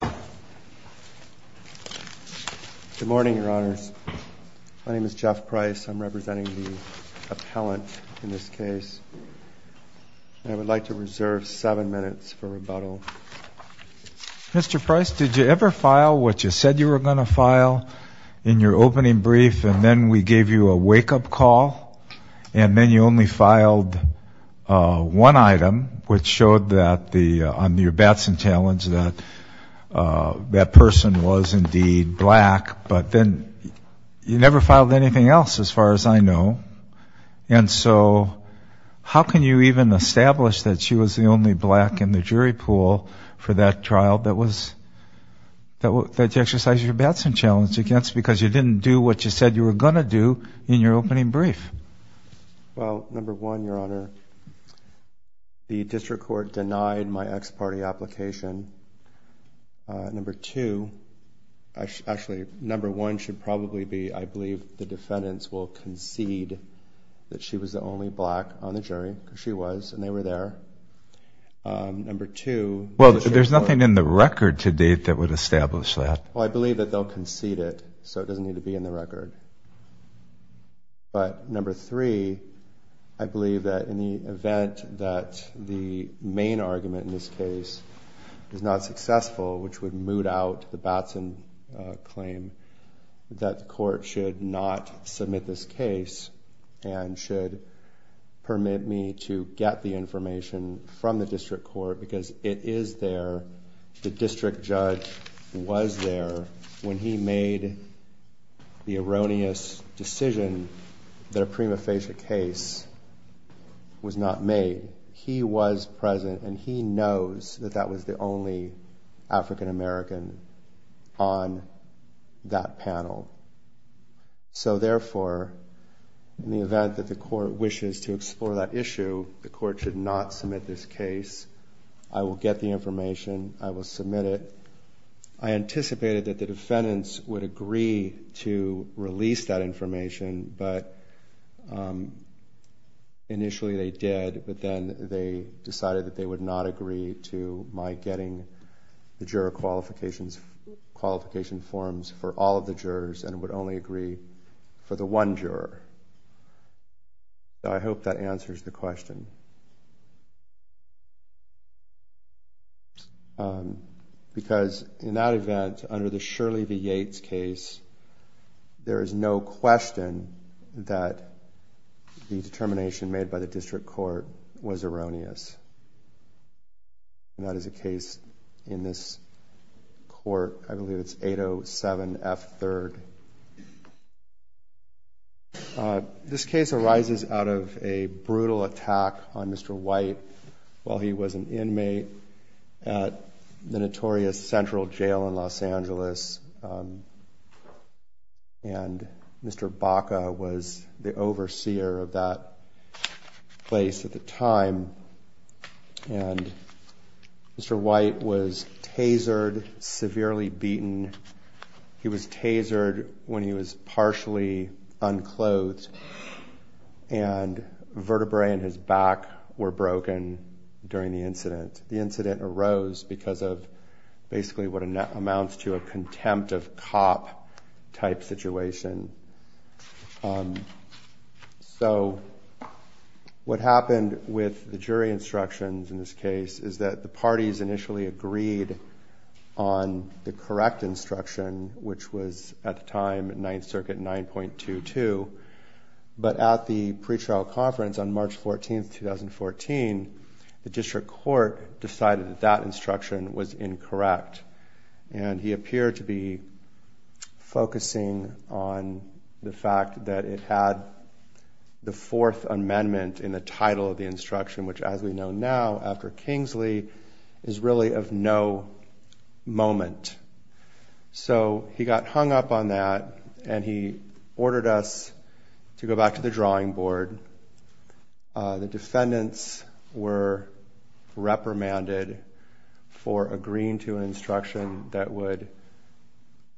Good morning, your honors. My name is Jeff Price. I'm representing the appellant in this case. I would like to reserve seven minutes for rebuttal. Mr. Price, did you ever file what you said you were going to file in your opening brief, and then we gave you a wake-up call, and then you only filed one item, which showed on your Batson challenge that that person was indeed black. But then you never filed anything else, as far as I know. And so how can you even establish that she was the only black in the jury pool for that trial that you exercised your Batson challenge against, because you didn't do what you said you were going to do in your opening brief? Well, number one, your honor, the district court denied my ex-party application. Number two – actually, number one should probably be I believe the defendants will concede that she was the only black on the jury, because she was, and they were there. Number two – Well, there's nothing in the record to date that would establish that. Well, I believe that they'll concede it, so it doesn't need to be in the record. But number three, I believe that in the event that the main argument in this case is not successful, which would moot out the Batson claim, that the court should not submit this case and should permit me to get the information from the district court, because it is there. The district judge was there when he made the erroneous decision that a prima facie case was not made. He was present, and he knows that that was the only African American on that panel. So therefore, in the event that the court wishes to explore that issue, the court should not submit this case. I will get the information. I will submit it. I anticipated that the defendants would agree to release that information, but initially they did. But then they decided that they would not agree to my getting the juror qualification forms for all of the jurors, and would only agree for the one juror. So I hope that answers the question. Because in that event, under the Shirley v. Yates case, there is no question that the determination made by the district court was erroneous. And that is the case in this court. I believe it's 807F3rd. This case arises out of a brutal attack on Mr. White while he was an inmate at the notorious Central Jail in Los Angeles. And Mr. Baca was the overseer of that place at the time. And Mr. White was tasered, severely beaten. He was tasered when he was partially unclothed. And vertebrae in his back were broken during the incident. The incident arose because of basically what amounts to a contempt of cop type situation. So what happened with the jury instructions in this case is that the parties initially agreed on the correct instruction, which was at the time 9th Circuit 9.22. But at the pretrial conference on March 14, 2014, the district court decided that that instruction was incorrect. And he appeared to be focusing on the fact that it had the Fourth Amendment in the title of the instruction, which as we know now, after Kingsley, is really of no moment. So he got hung up on that and he ordered us to go back to the drawing board. The defendants were reprimanded for agreeing to an instruction that would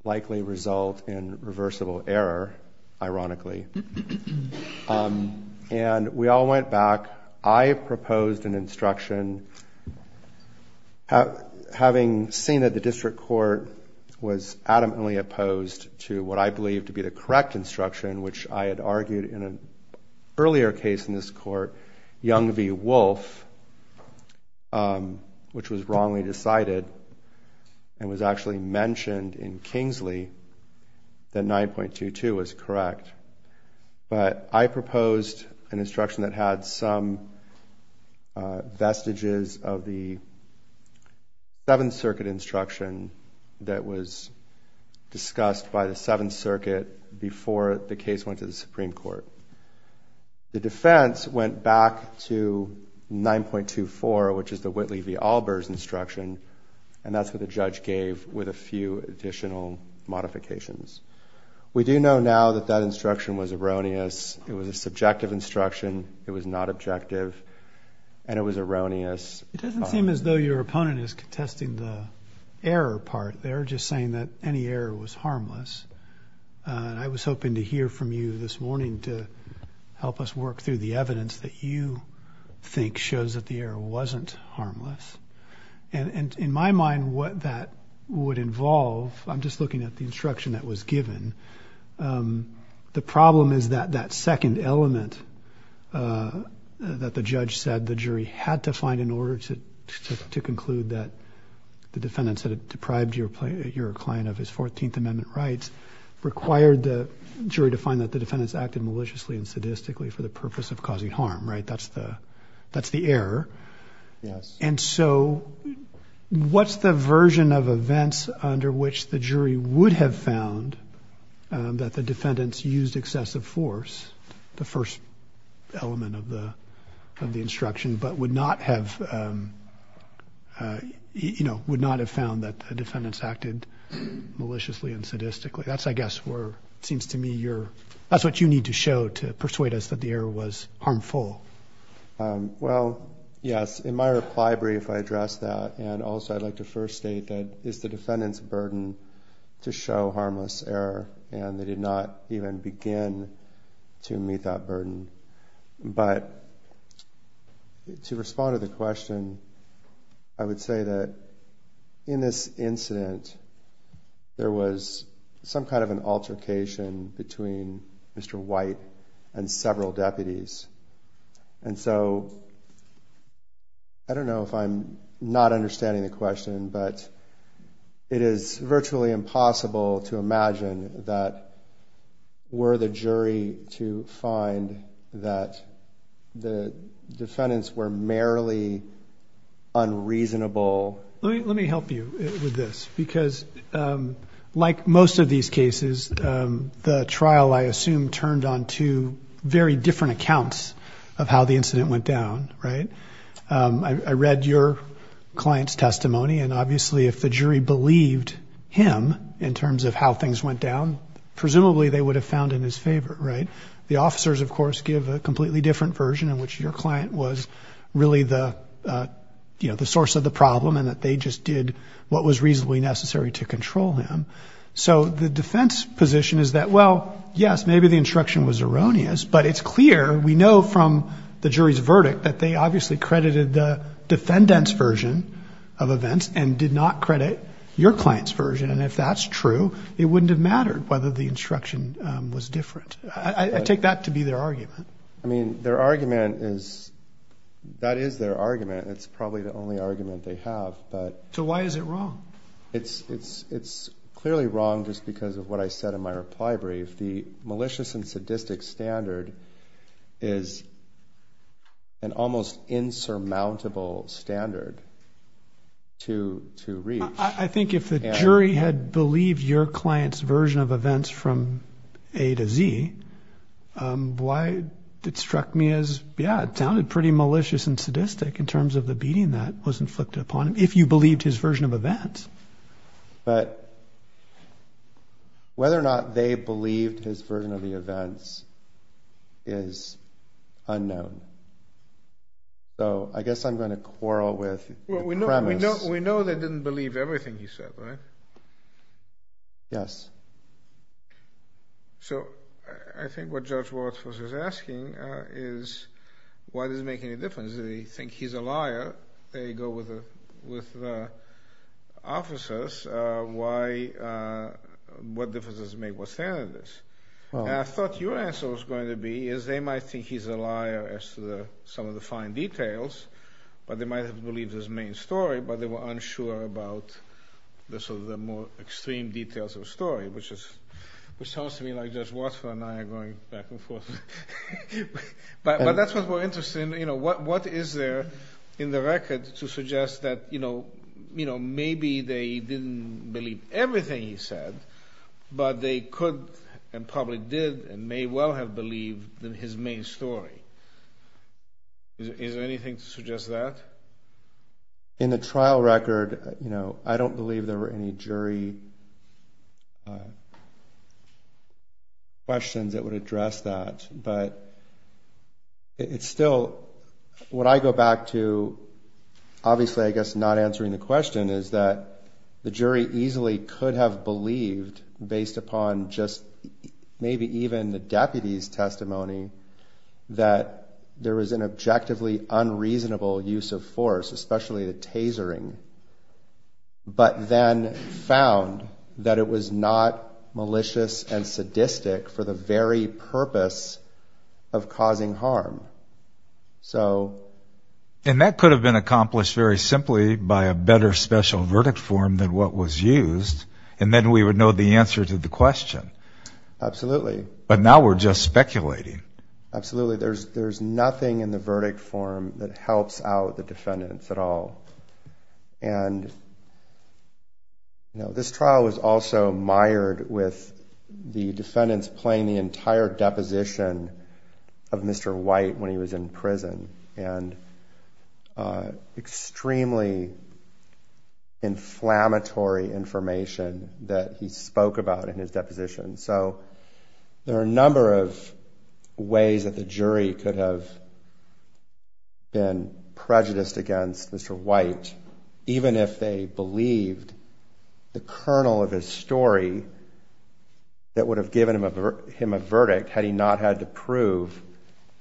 likely result in reversible error, ironically. And we all went back. I proposed an instruction. Having seen that the district court was adamantly opposed to what I believe to be the correct instruction, which I had argued in an earlier case in this court, Young v. Wolfe, which was wrongly decided and was actually mentioned in Kingsley, that 9.22 was correct. But I proposed an instruction that had some vestiges of the 7th Circuit instruction that was discussed by the 7th Circuit before the case went to the Supreme Court. The defense went back to 9.24, which is the Whitley v. Albers instruction, and that's what the judge gave with a few additional modifications. We do know now that that instruction was erroneous. It was a subjective instruction. It was not objective. And it was erroneous. It doesn't seem as though your opponent is contesting the error part there, just saying that any error was harmless. And I was hoping to hear from you this morning to help us work through the evidence that you think shows that the error wasn't harmless. And in my mind, what that would involve, I'm just looking at the instruction that was given, the problem is that that second element that the judge said the jury had to find in order to conclude that the defendants had deprived your client of his 14th Amendment rights required the jury to find that the defendants acted maliciously and sadistically for the purpose of causing harm, right? That's the error. And so what's the version of events under which the jury would have found that the defendants used excessive force, the first element of the instruction, but would not have found that the defendants acted maliciously and sadistically? That's, I guess, where it seems to me that's what you need to show to persuade us that the error was harmful. Well, yes, in my reply brief I addressed that, and also I'd like to first state that it's the defendant's burden to show harmless error, and they did not even begin to meet that burden. But to respond to the question, I would say that in this incident, there was some kind of an altercation between Mr. White and several deputies. And so I don't know if I'm not understanding the question, but it is virtually impossible to imagine that were the jury to find that the defendants were merely unreasonable. Let me help you with this, because like most of these cases, the trial, I assume, turned on two very different accounts of how the incident went down, right? I read your client's testimony, and obviously if the jury believed him in terms of how things went down, presumably they would have found in his favor, right? The officers, of course, give a completely different version in which your client was really the source of the problem and that they just did what was reasonably necessary to control him. So the defense position is that, well, yes, maybe the instruction was erroneous, but it's clear we know from the jury's verdict that they obviously credited the defendant's version of events and did not credit your client's version. And if that's true, it wouldn't have mattered whether the instruction was different. I take that to be their argument. I mean, their argument is – that is their argument. It's probably the only argument they have. So why is it wrong? It's clearly wrong just because of what I said in my reply brief. The malicious and sadistic standard is an almost insurmountable standard to reach. I think if the jury had believed your client's version of events from A to Z, why it struck me as, yeah, it sounded pretty malicious and sadistic in terms of the beating that was inflicted upon him, if you believed his version of events. But whether or not they believed his version of the events is unknown. So I guess I'm going to quarrel with the premise. We know they didn't believe everything he said, right? Yes. So I think what Judge Waltz was asking is why does it make any difference? They think he's a liar. They go with the officers. What difference does it make what standard it is? And I thought your answer was going to be is they might think he's a liar as to some of the fine details, but they might have believed his main story, but they were unsure about some of the more extreme details of the story, which sounds to me like Judge Waltz and I are going back and forth. But that's what's more interesting. What is there in the record to suggest that maybe they didn't believe everything he said, but they could and probably did and may well have believed in his main story? Is there anything to suggest that? In the trial record, I don't believe there were any jury questions that would address that. But it's still what I go back to, obviously I guess not answering the question, is that the jury easily could have believed based upon just maybe even the deputy's testimony that there was an objectively unreasonable use of force, especially the tasering, but then found that it was not malicious and sadistic for the very purpose of causing harm. And that could have been accomplished very simply by a better special verdict form than what was used, and then we would know the answer to the question. Absolutely. But now we're just speculating. Absolutely. There's nothing in the verdict form that helps out the defendants at all. And this trial was also mired with the defendants playing the entire deposition of Mr. White when he was in prison, and extremely inflammatory information that he spoke about in his deposition. So there are a number of ways that the jury could have been prejudiced against Mr. White, even if they believed the kernel of his story that would have given him a verdict had he not had to prove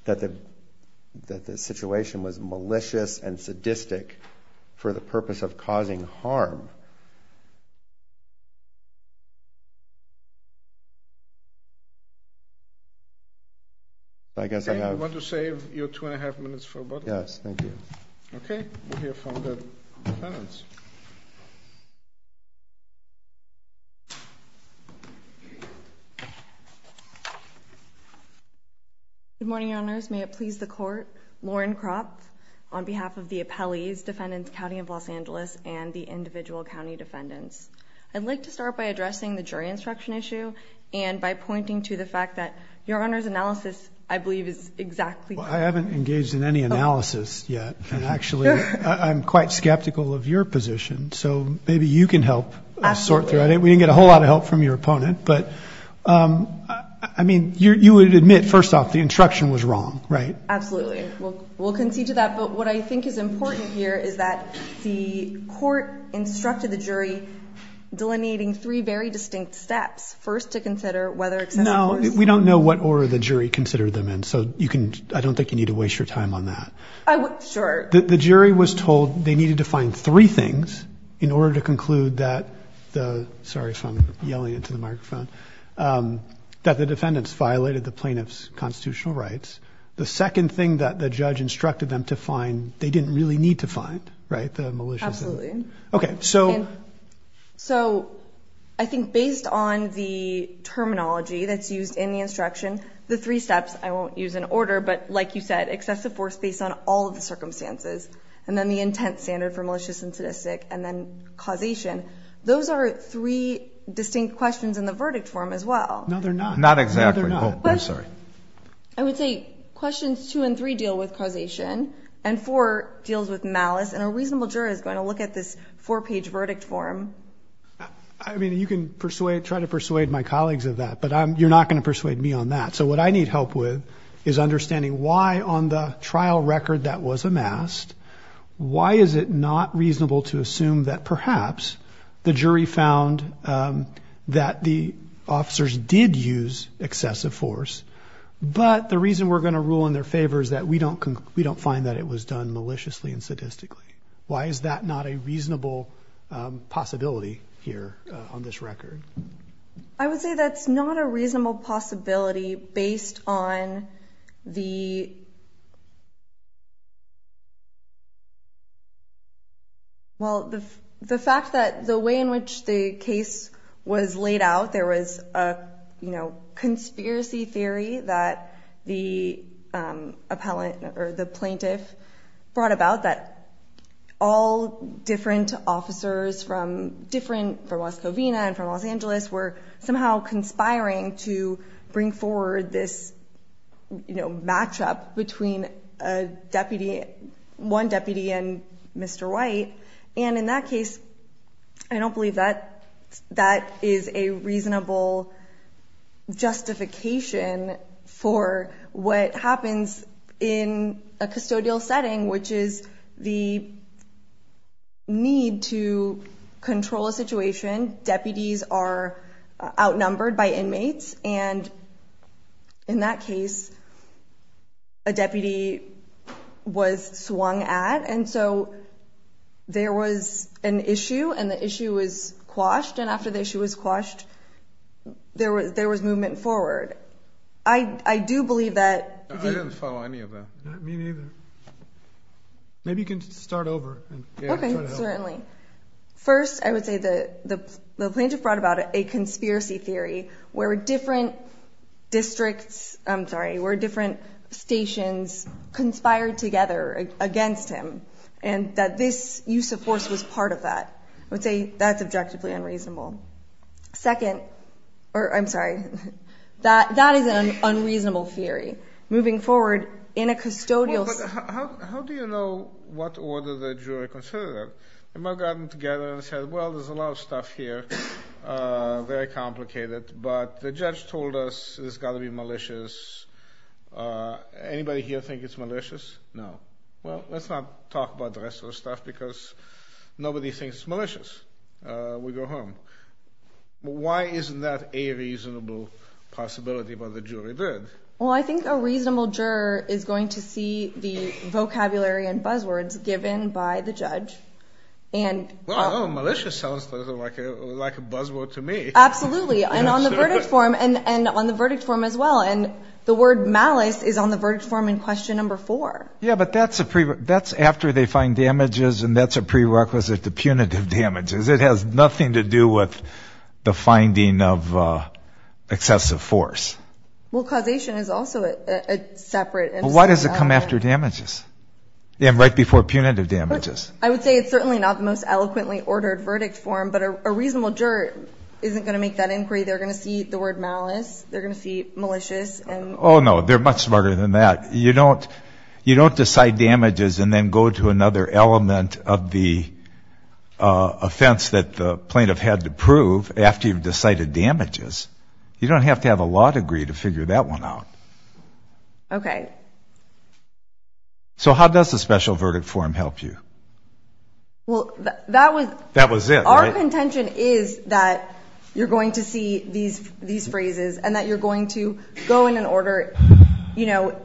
that the situation was malicious and sadistic for the purpose of causing harm. I guess I have... Dave, you want to save your two and a half minutes for about a minute? Yes, thank you. Okay. We'll hear from the defendants. Good morning, Your Honors. May it please the Court. Lauren Kropf on behalf of the appellees, Defendants County of Los Angeles, and the individual county defendants. I'd like to start by addressing the jury instruction issue and by pointing to the fact that Your Honor's analysis, I believe, is exactly correct. Well, I haven't engaged in any analysis yet. And actually, I'm quite skeptical of your position. So maybe you can help sort through it. We didn't get a whole lot of help from your opponent. But, I mean, you would admit, first off, the instruction was wrong, right? Absolutely. We'll concede to that. Yeah, but what I think is important here is that the court instructed the jury delineating three very distinct steps. First, to consider whether, et cetera. No, we don't know what order the jury considered them in. So I don't think you need to waste your time on that. Sure. The jury was told they needed to find three things in order to conclude that the – sorry if I'm yelling into the microphone – that the defendants violated the plaintiff's constitutional rights. The second thing that the judge instructed them to find, they didn't really need to find, right? The malicious and – Absolutely. Okay, so – So I think based on the terminology that's used in the instruction, the three steps – I won't use an order, but like you said, excessive force based on all of the circumstances, and then the intent standard for malicious and sadistic, and then causation. Those are three distinct questions in the verdict form as well. No, they're not. Not exactly. I'm sorry. I would say questions two and three deal with causation, and four deals with malice, and a reasonable jury is going to look at this four-page verdict form. I mean, you can try to persuade my colleagues of that, but you're not going to persuade me on that. So what I need help with is understanding why on the trial record that was amassed, why is it not reasonable to assume that perhaps the jury found that the officers did use excessive force, but the reason we're going to rule in their favor is that we don't find that it was done maliciously and sadistically. Why is that not a reasonable possibility here on this record? I would say that's not a reasonable possibility based on the – Well, the fact that the way in which the case was laid out, there was a conspiracy theory that the plaintiff brought about that all different officers from different – from Las Covinas and from Los Angeles were somehow conspiring to bring forward this matchup between a deputy and Mr. White. And in that case, I don't believe that that is a reasonable justification for what happens in a custodial setting, which is the need to control a situation. Deputies are outnumbered by inmates. And in that case, a deputy was swung at. And so there was an issue, and the issue was quashed. And after the issue was quashed, there was movement forward. I do believe that the – I didn't follow any of that. Me neither. Maybe you can start over. Okay, certainly. First, I would say the plaintiff brought about a conspiracy theory where different districts – I'm sorry – where different stations conspired together against him, and that this use of force was part of that. I would say that's objectively unreasonable. Second – or I'm sorry – that is an unreasonable theory. Moving forward, in a custodial – Well, but how do you know what order the jury considered that? They might have gotten together and said, well, there's a lot of stuff here, very complicated, but the judge told us it's got to be malicious. Anybody here think it's malicious? No. Well, let's not talk about the rest of the stuff because nobody thinks it's malicious. We go home. Why isn't that a reasonable possibility, but the jury did? Well, I think a reasonable juror is going to see the vocabulary and buzzwords given by the judge. Well, malicious sounds like a buzzword to me. Absolutely, and on the verdict form as well, and the word malice is on the verdict form in question number four. Yeah, but that's after they find damages, and that's a prerequisite to punitive damages. It has nothing to do with the finding of excessive force. Well, causation is also separate. Well, why does it come after damages and right before punitive damages? I would say it's certainly not the most eloquently ordered verdict form, but a reasonable juror isn't going to make that inquiry. They're going to see the word malice. They're going to see malicious. Oh, no, they're much smarter than that. You don't decide damages and then go to another element of the offense that the plaintiff had to prove after you've decided damages. You don't have to have a law degree to figure that one out. Okay. So how does the special verdict form help you? Well, that was it. Our intention is that you're going to see these phrases and that you're going to go in an order, you know,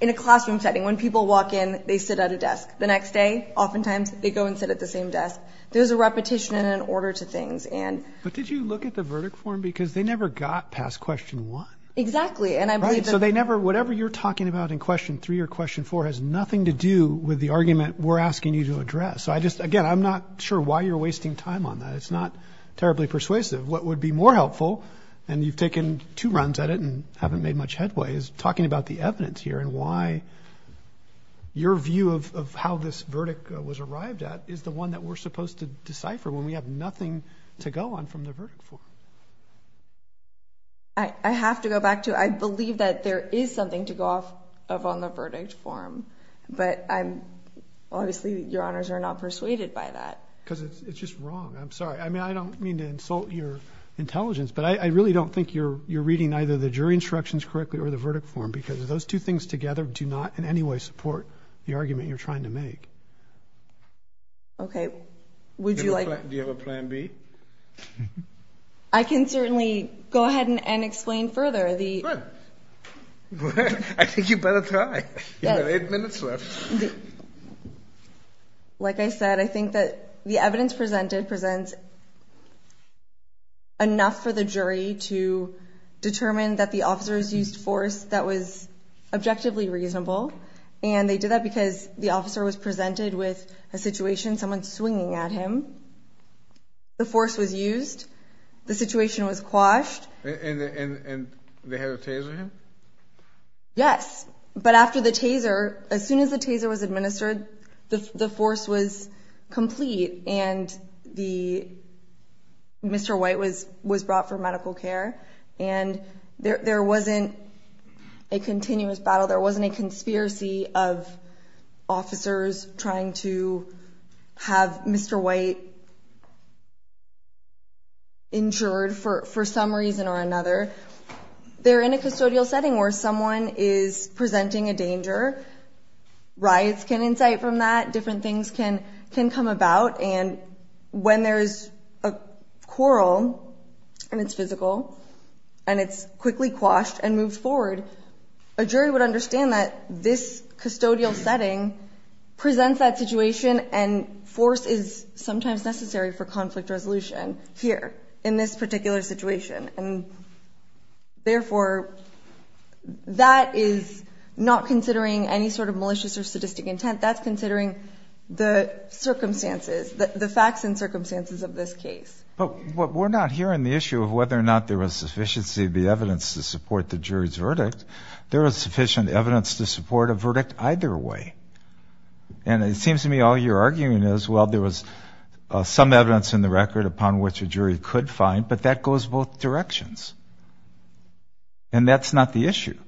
in a classroom setting. When people walk in, they sit at a desk. The next day, oftentimes, they go and sit at the same desk. There's a repetition and an order to things. But did you look at the verdict form? Because they never got past question one. Exactly. Right, so whatever you're talking about in question three or question four has nothing to do with the argument we're asking you to address. Again, I'm not sure why you're wasting time on that. It's not terribly persuasive. What would be more helpful, and you've taken two runs at it and haven't made much headway, is talking about the evidence here and why your view of how this verdict was arrived at is the one that we're supposed to decipher when we have nothing to go on from the verdict form. I have to go back to, I believe that there is something to go off of on the verdict form. But obviously, Your Honors are not persuaded by that. Because it's just wrong. I'm sorry. I mean, I don't mean to insult your intelligence, but I really don't think you're reading either the jury instructions correctly or the verdict form because those two things together do not in any way support the argument you're trying to make. Okay, would you like... Do you have a plan B? I can certainly go ahead and explain further the... Good. I think you better try. You've got eight minutes left. Like I said, I think that the evidence presented presents enough for the jury to determine that the officers used force that was objectively reasonable. And they did that because the officer was presented with a situation, someone swinging at him. The force was used. The situation was quashed. And they had to taser him? Yes. But after the taser, as soon as the taser was administered, the force was complete and Mr. White was brought for medical care. And there wasn't a continuous battle. There wasn't a conspiracy of officers trying to have Mr. White injured for some reason or another. They're in a custodial setting where someone is presenting a danger. Riots can incite from that. Different things can come about. And when there's a quarrel and it's physical and it's quickly quashed and moved forward, a jury would understand that this custodial setting presents that situation and force is sometimes necessary for conflict resolution here in this particular situation. And therefore, that is not considering any sort of malicious or sadistic intent. That's considering the circumstances, the facts and circumstances of this case. But we're not hearing the issue of whether or not there was sufficiency of the evidence to support the jury's verdict. There was sufficient evidence to support a verdict either way. And it seems to me all you're arguing is, well, there was some evidence in the record upon which a jury could find, but that goes both directions. And that's not the issue.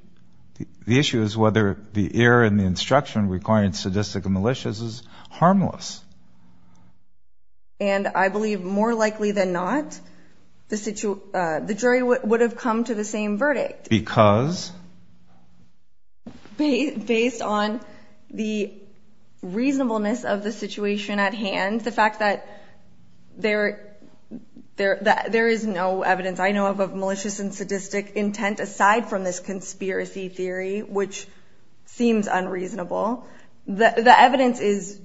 The issue is whether the error in the instruction requiring sadistic and malicious is harmless. And I believe more likely than not, the jury would have come to the same verdict. Because? Based on the reasonableness of the situation at hand, the fact that there is no evidence I know of malicious and sadistic intent aside from this conspiracy theory, which seems unreasonable. The evidence is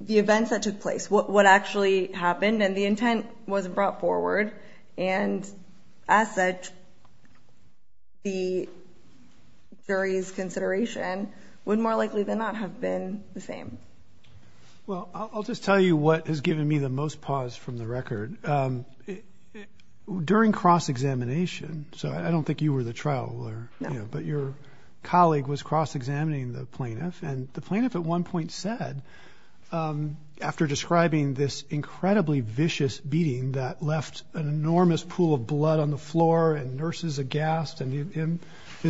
the events that took place, what actually happened and the intent was brought forward. And as such, the jury's consideration would more likely than not have been the same. Well, I'll just tell you what has given me the most pause from the record. During cross-examination, so I don't think you were the trial lawyer, but your colleague was cross-examining the plaintiff. And the plaintiff at one point said, after describing this incredibly vicious beating that left an enormous pool of blood on the floor and nurses aghast and him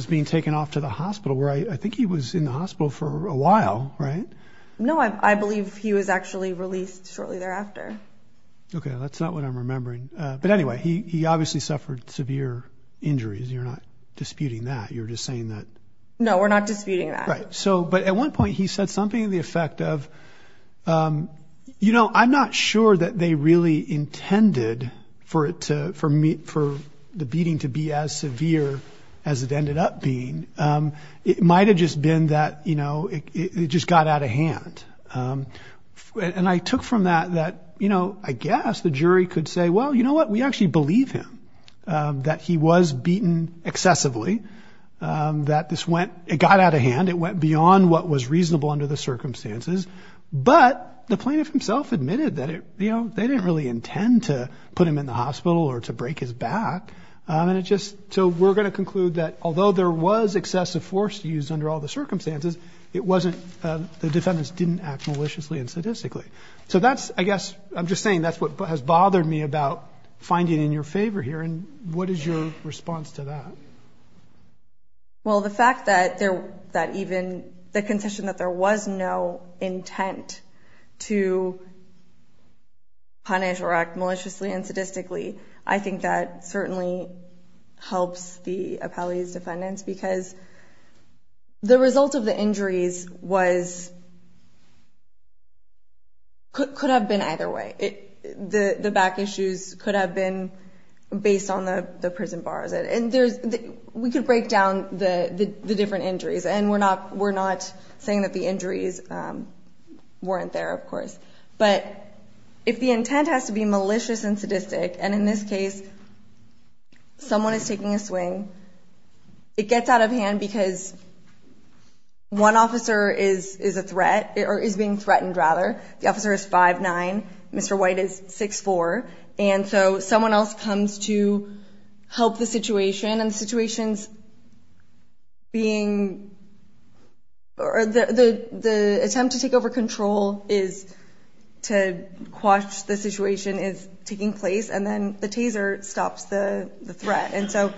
being taken off to the hospital, where I think he was in the hospital for a while, right? No, I believe he was actually released shortly thereafter. Okay, that's not what I'm remembering. But anyway, he obviously suffered severe injuries. You're not disputing that. You're just saying that. No, we're not disputing that. Right. But at one point he said something to the effect of, you know, I'm not sure that they really intended for the beating to be as severe as it ended up being. It might have just been that, you know, it just got out of hand. And I took from that that, you know, I guess the jury could say, well, you know what? We actually believe him, that he was beaten excessively, that this went ñ it got out of hand. It went beyond what was reasonable under the circumstances. But the plaintiff himself admitted that, you know, they didn't really intend to put him in the hospital or to break his back. And it just ñ so we're going to conclude that although there was excessive force used under all the circumstances, it wasn't ñ the defendants didn't act maliciously and sadistically. So that's, I guess ñ I'm just saying that's what has bothered me about finding in your favor here. And what is your response to that? Well, the fact that there ñ that even the condition that there was no intent to punish or act maliciously and sadistically, I think that certainly helps the appellee's defendants because the result of the injuries was ñ could have been either way. The back issues could have been based on the prison bars. And there's ñ we could break down the different injuries. And we're not saying that the injuries weren't there, of course. But if the intent has to be malicious and sadistic, and in this case someone is taking a swing, it gets out of hand because one officer is a threat or is being threatened, rather. The officer is 5'9", Mr. White is 6'4". And so someone else comes to help the situation, and the situation's being ñ the attempt to take over control is to quash the situation is taking place, and then the taser stops the threat. And so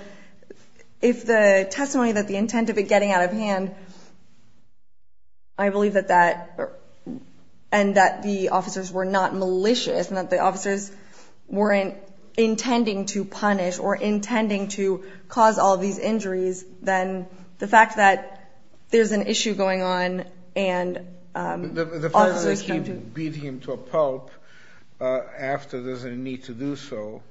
if the testimony that the intent of it getting out of hand ñ I believe that that ñ and that the officers were not malicious and that the officers weren't intending to punish or intending to cause all these injuries, then the fact that there's an issue going on and officers come to ñ The fact that he beat him to a pulp after there's a need to do so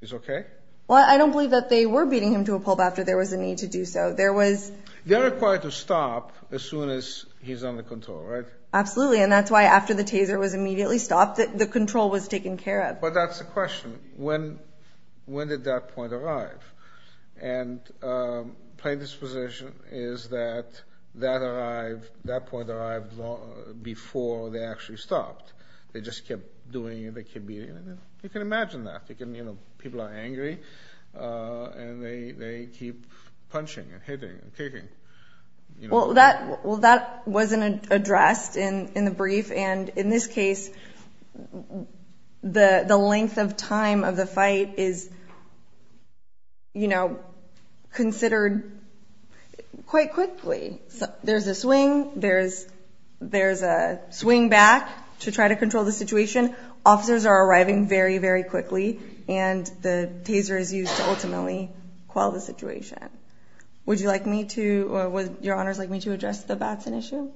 is okay? Well, I don't believe that they were beating him to a pulp after there was a need to do so. There was ñ They're required to stop as soon as he's under control, right? Absolutely, and that's why after the taser was immediately stopped, the control was taken care of. But that's the question. When did that point arrive? And plain disposition is that that point arrived before they actually stopped. They just kept doing it, they kept beating him. You can imagine that. People are angry, and they keep punching and hitting and kicking. Well, that wasn't addressed in the brief, and in this case, the length of time of the fight is considered quite quickly. There's a swing, there's a swing back to try to control the situation. Officers are arriving very, very quickly, and the taser is used to ultimately quell the situation. Would you like me to ñ would Your Honors like me to address the Batson issue?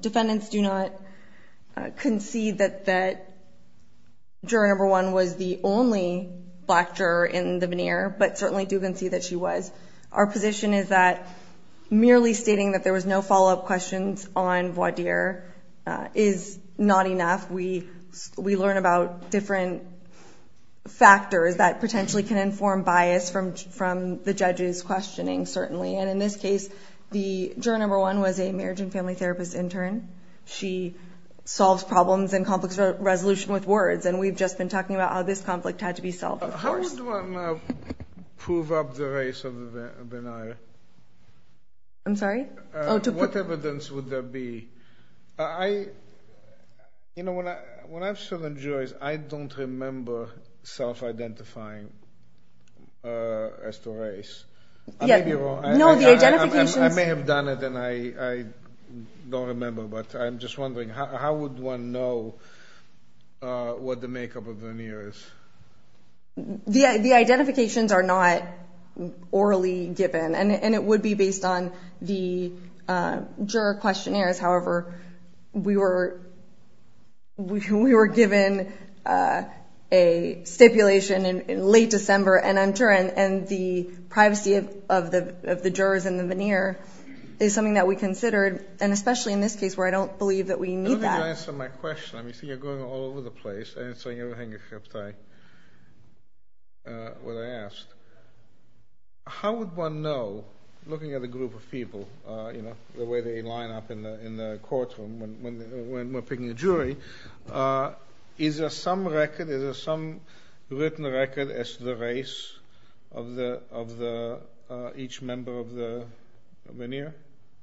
Defendants do not concede that juror number one was the only black juror in the veneer, but certainly do concede that she was. Our position is that merely stating that there was no follow-up questions on Wadir is not enough. We learn about different factors that potentially can inform bias from the judge's questioning, certainly. And in this case, the juror number one was a marriage and family therapist intern. She solves problems in complex resolution with words, and we've just been talking about how this conflict had to be solved, of course. I just want to prove up the race of the veneer. I'm sorry? What evidence would there be? You know, when I've served on juries, I don't remember self-identifying as the race. I may be wrong. I may have done it, and I don't remember, but I'm just wondering, how would one know what the makeup of the veneer is? The identifications are not orally given, and it would be based on the juror questionnaires. However, we were given a stipulation in late December, and the privacy of the jurors in the veneer is something that we considered, and especially in this case where I don't believe that we need that. I don't think you answered my question. I see you're going all over the place answering everything I asked. How would one know, looking at a group of people, the way they line up in the courtroom when we're picking a jury, is there some written record as to the race of each member of the veneer?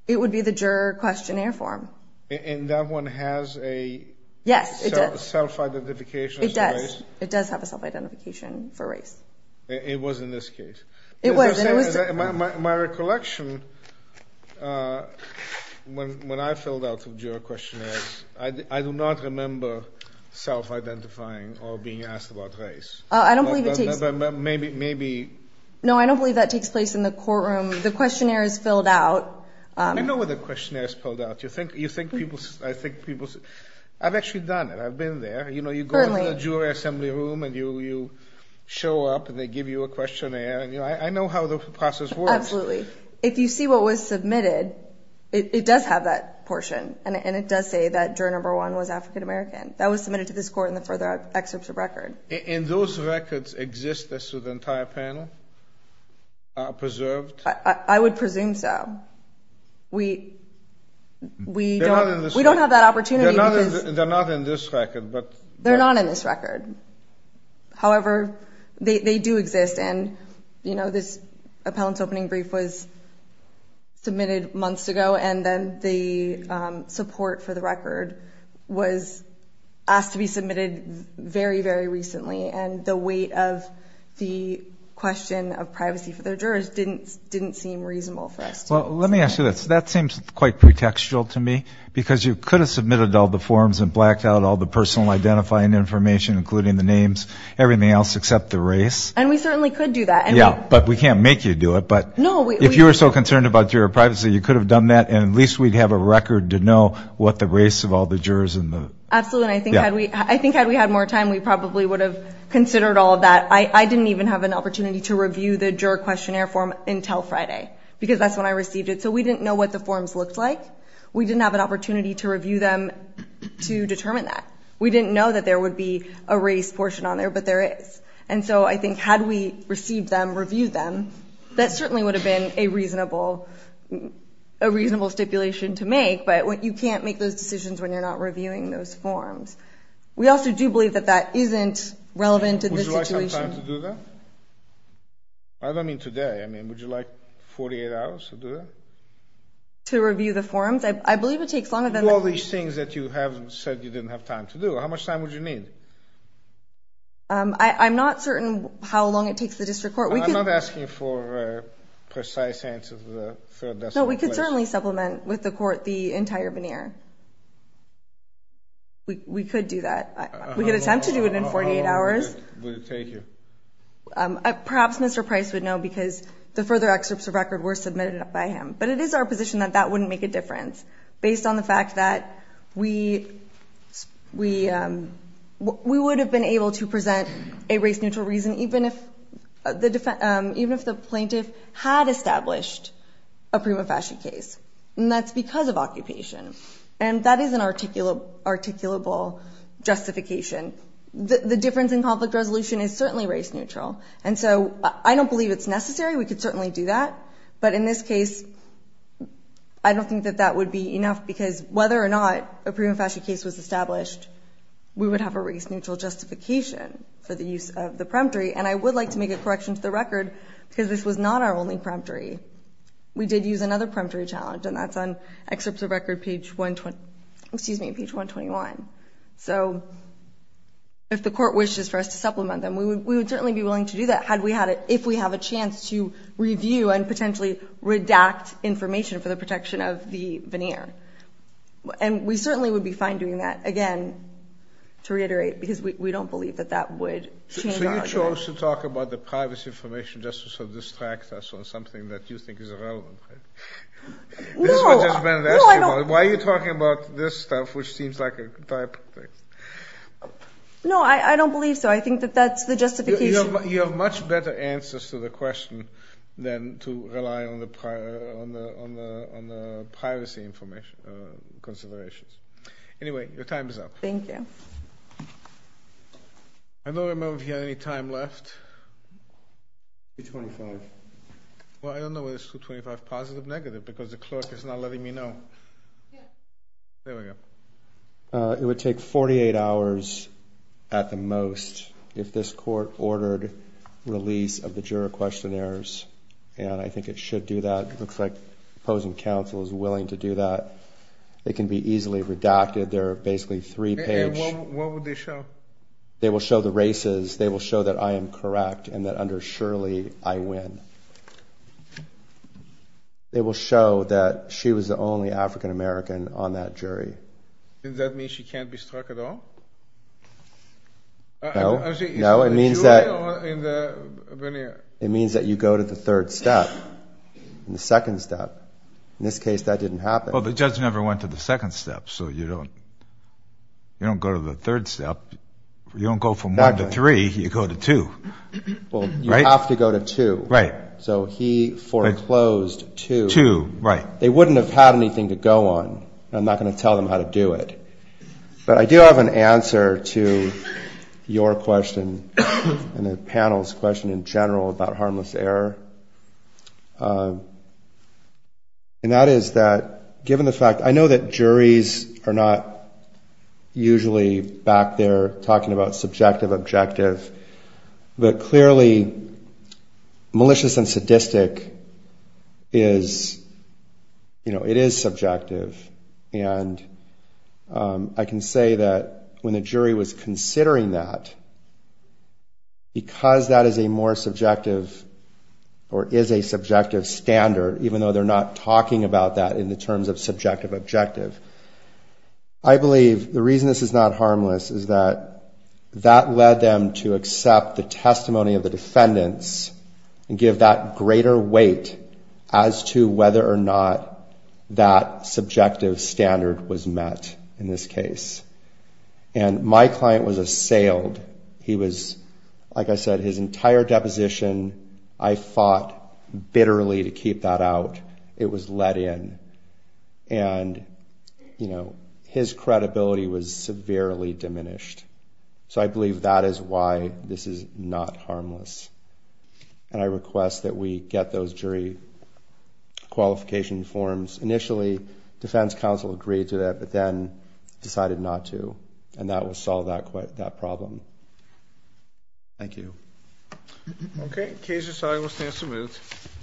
It would be the juror questionnaire form. And that one has a self-identification? It does. It does have a self-identification for race. It was in this case. It was. My recollection, when I filled out the juror questionnaires, I do not remember self-identifying or being asked about race. I don't believe it takes— Maybe— No, I don't believe that takes place in the courtroom. The questionnaire is filled out. I know where the questionnaire is filled out. You think people—I've actually done it. I've been there. You go into the jury assembly room, and you show up, and they give you a questionnaire. I know how the process works. Absolutely. If you see what was submitted, it does have that portion, and it does say that juror number one was African American. That was submitted to this court in the further excerpts of record. And those records exist as to the entire panel, preserved? I would presume so. We don't have that opportunity. They're not in this record. They're not in this record. However, they do exist. And, you know, this appellant's opening brief was submitted months ago, and then the support for the record was asked to be submitted very, very recently, and the weight of the question of privacy for the jurors didn't seem reasonable for us to— Well, let me ask you this. That seems quite pretextual to me, because you could have submitted all the forms and blacked out all the personal identifying information, including the names, everything else except the race. And we certainly could do that. Yeah, but we can't make you do it. But if you were so concerned about juror privacy, you could have done that, and at least we'd have a record to know what the race of all the jurors in the— Absolutely, and I think had we had more time, we probably would have considered all of that. I didn't even have an opportunity to review the juror questionnaire form until Friday, because that's when I received it. So we didn't know what the forms looked like. We didn't have an opportunity to review them to determine that. We didn't know that there would be a race portion on there, but there is. And so I think had we received them, reviewed them, that certainly would have been a reasonable stipulation to make, but you can't make those decisions when you're not reviewing those forms. We also do believe that that isn't relevant in this situation. Would you like some time to do that? I don't mean today. I mean, would you like 48 hours to do that? To review the forms? I believe it takes longer than that. Do all these things that you have said you didn't have time to do. How much time would you need? I'm not certain how long it takes the district court. I'm not asking for a precise answer to the third decimal place. No, we could certainly supplement with the court the entire veneer. We could do that. We could attempt to do it in 48 hours. How long would it take you? Perhaps Mr. Price would know, because the further excerpts of record were submitted by him. But it is our position that that wouldn't make a difference, based on the fact that we would have been able to present a race-neutral reason, even if the plaintiff had established a prima facie case, and that's because of occupation. And that is an articulable justification. The difference in conflict resolution is certainly race-neutral. And so I don't believe it's necessary. We could certainly do that. But in this case, I don't think that that would be enough, because whether or not a prima facie case was established, we would have a race-neutral justification for the use of the peremptory. And I would like to make a correction to the record, because this was not our only peremptory. We did use another peremptory challenge, and that's on excerpts of record page 121. So if the Court wishes for us to supplement them, we would certainly be willing to do that, if we have a chance to review and potentially redact information for the protection of the veneer. And we certainly would be fine doing that, again, to reiterate, because we don't believe that that would change our argument. So you chose to talk about the privacy information just to sort of distract us on something that you think is relevant, right? This is what Judge Bennett asked you about. Why are you talking about this stuff, which seems like a type of thing? No, I don't believe so. I think that that's the justification. You have much better answers to the question than to rely on the privacy information considerations. Anyway, your time is up. Thank you. I don't remember if you had any time left. 225. Well, I don't know where this 225 positive, negative, because the clerk is not letting me know. There we go. It would take 48 hours at the most if this Court ordered release of the juror questionnaires, and I think it should do that. It looks like opposing counsel is willing to do that. It can be easily redacted. What would they show? They will show the races. They will show that I am correct and that under Shirley I win. They will show that she was the only African-American on that jury. Does that mean she can't be struck at all? No, it means that you go to the third step, the second step. In this case, that didn't happen. Well, the judge never went to the second step, so you don't go to the third step. You don't go from one to three. You go to two. Well, you have to go to two. Right. So he foreclosed two. Two, right. They wouldn't have had anything to go on. I'm not going to tell them how to do it. But I do have an answer to your question and the panel's question in general about harmless error, and that is that given the fact, I know that juries are not usually back there talking about subjective objective, but clearly malicious and sadistic is, you know, it is subjective. And I can say that when the jury was considering that, because that is a more subjective or is a subjective standard, even though they're not talking about that in the terms of subjective objective, I believe the reason this is not harmless is that that led them to accept the testimony of the defendants and give that greater weight as to whether or not that subjective standard was met in this case. And my client was assailed. He was, like I said, his entire deposition, I fought bitterly to keep that out. It was let in. And, you know, his credibility was severely diminished. So I believe that is why this is not harmless. And I request that we get those jury qualification forms. Initially, defense counsel agreed to that, but then decided not to. And that will solve that problem. Thank you. Okay. Case is signed. We'll stand some minutes.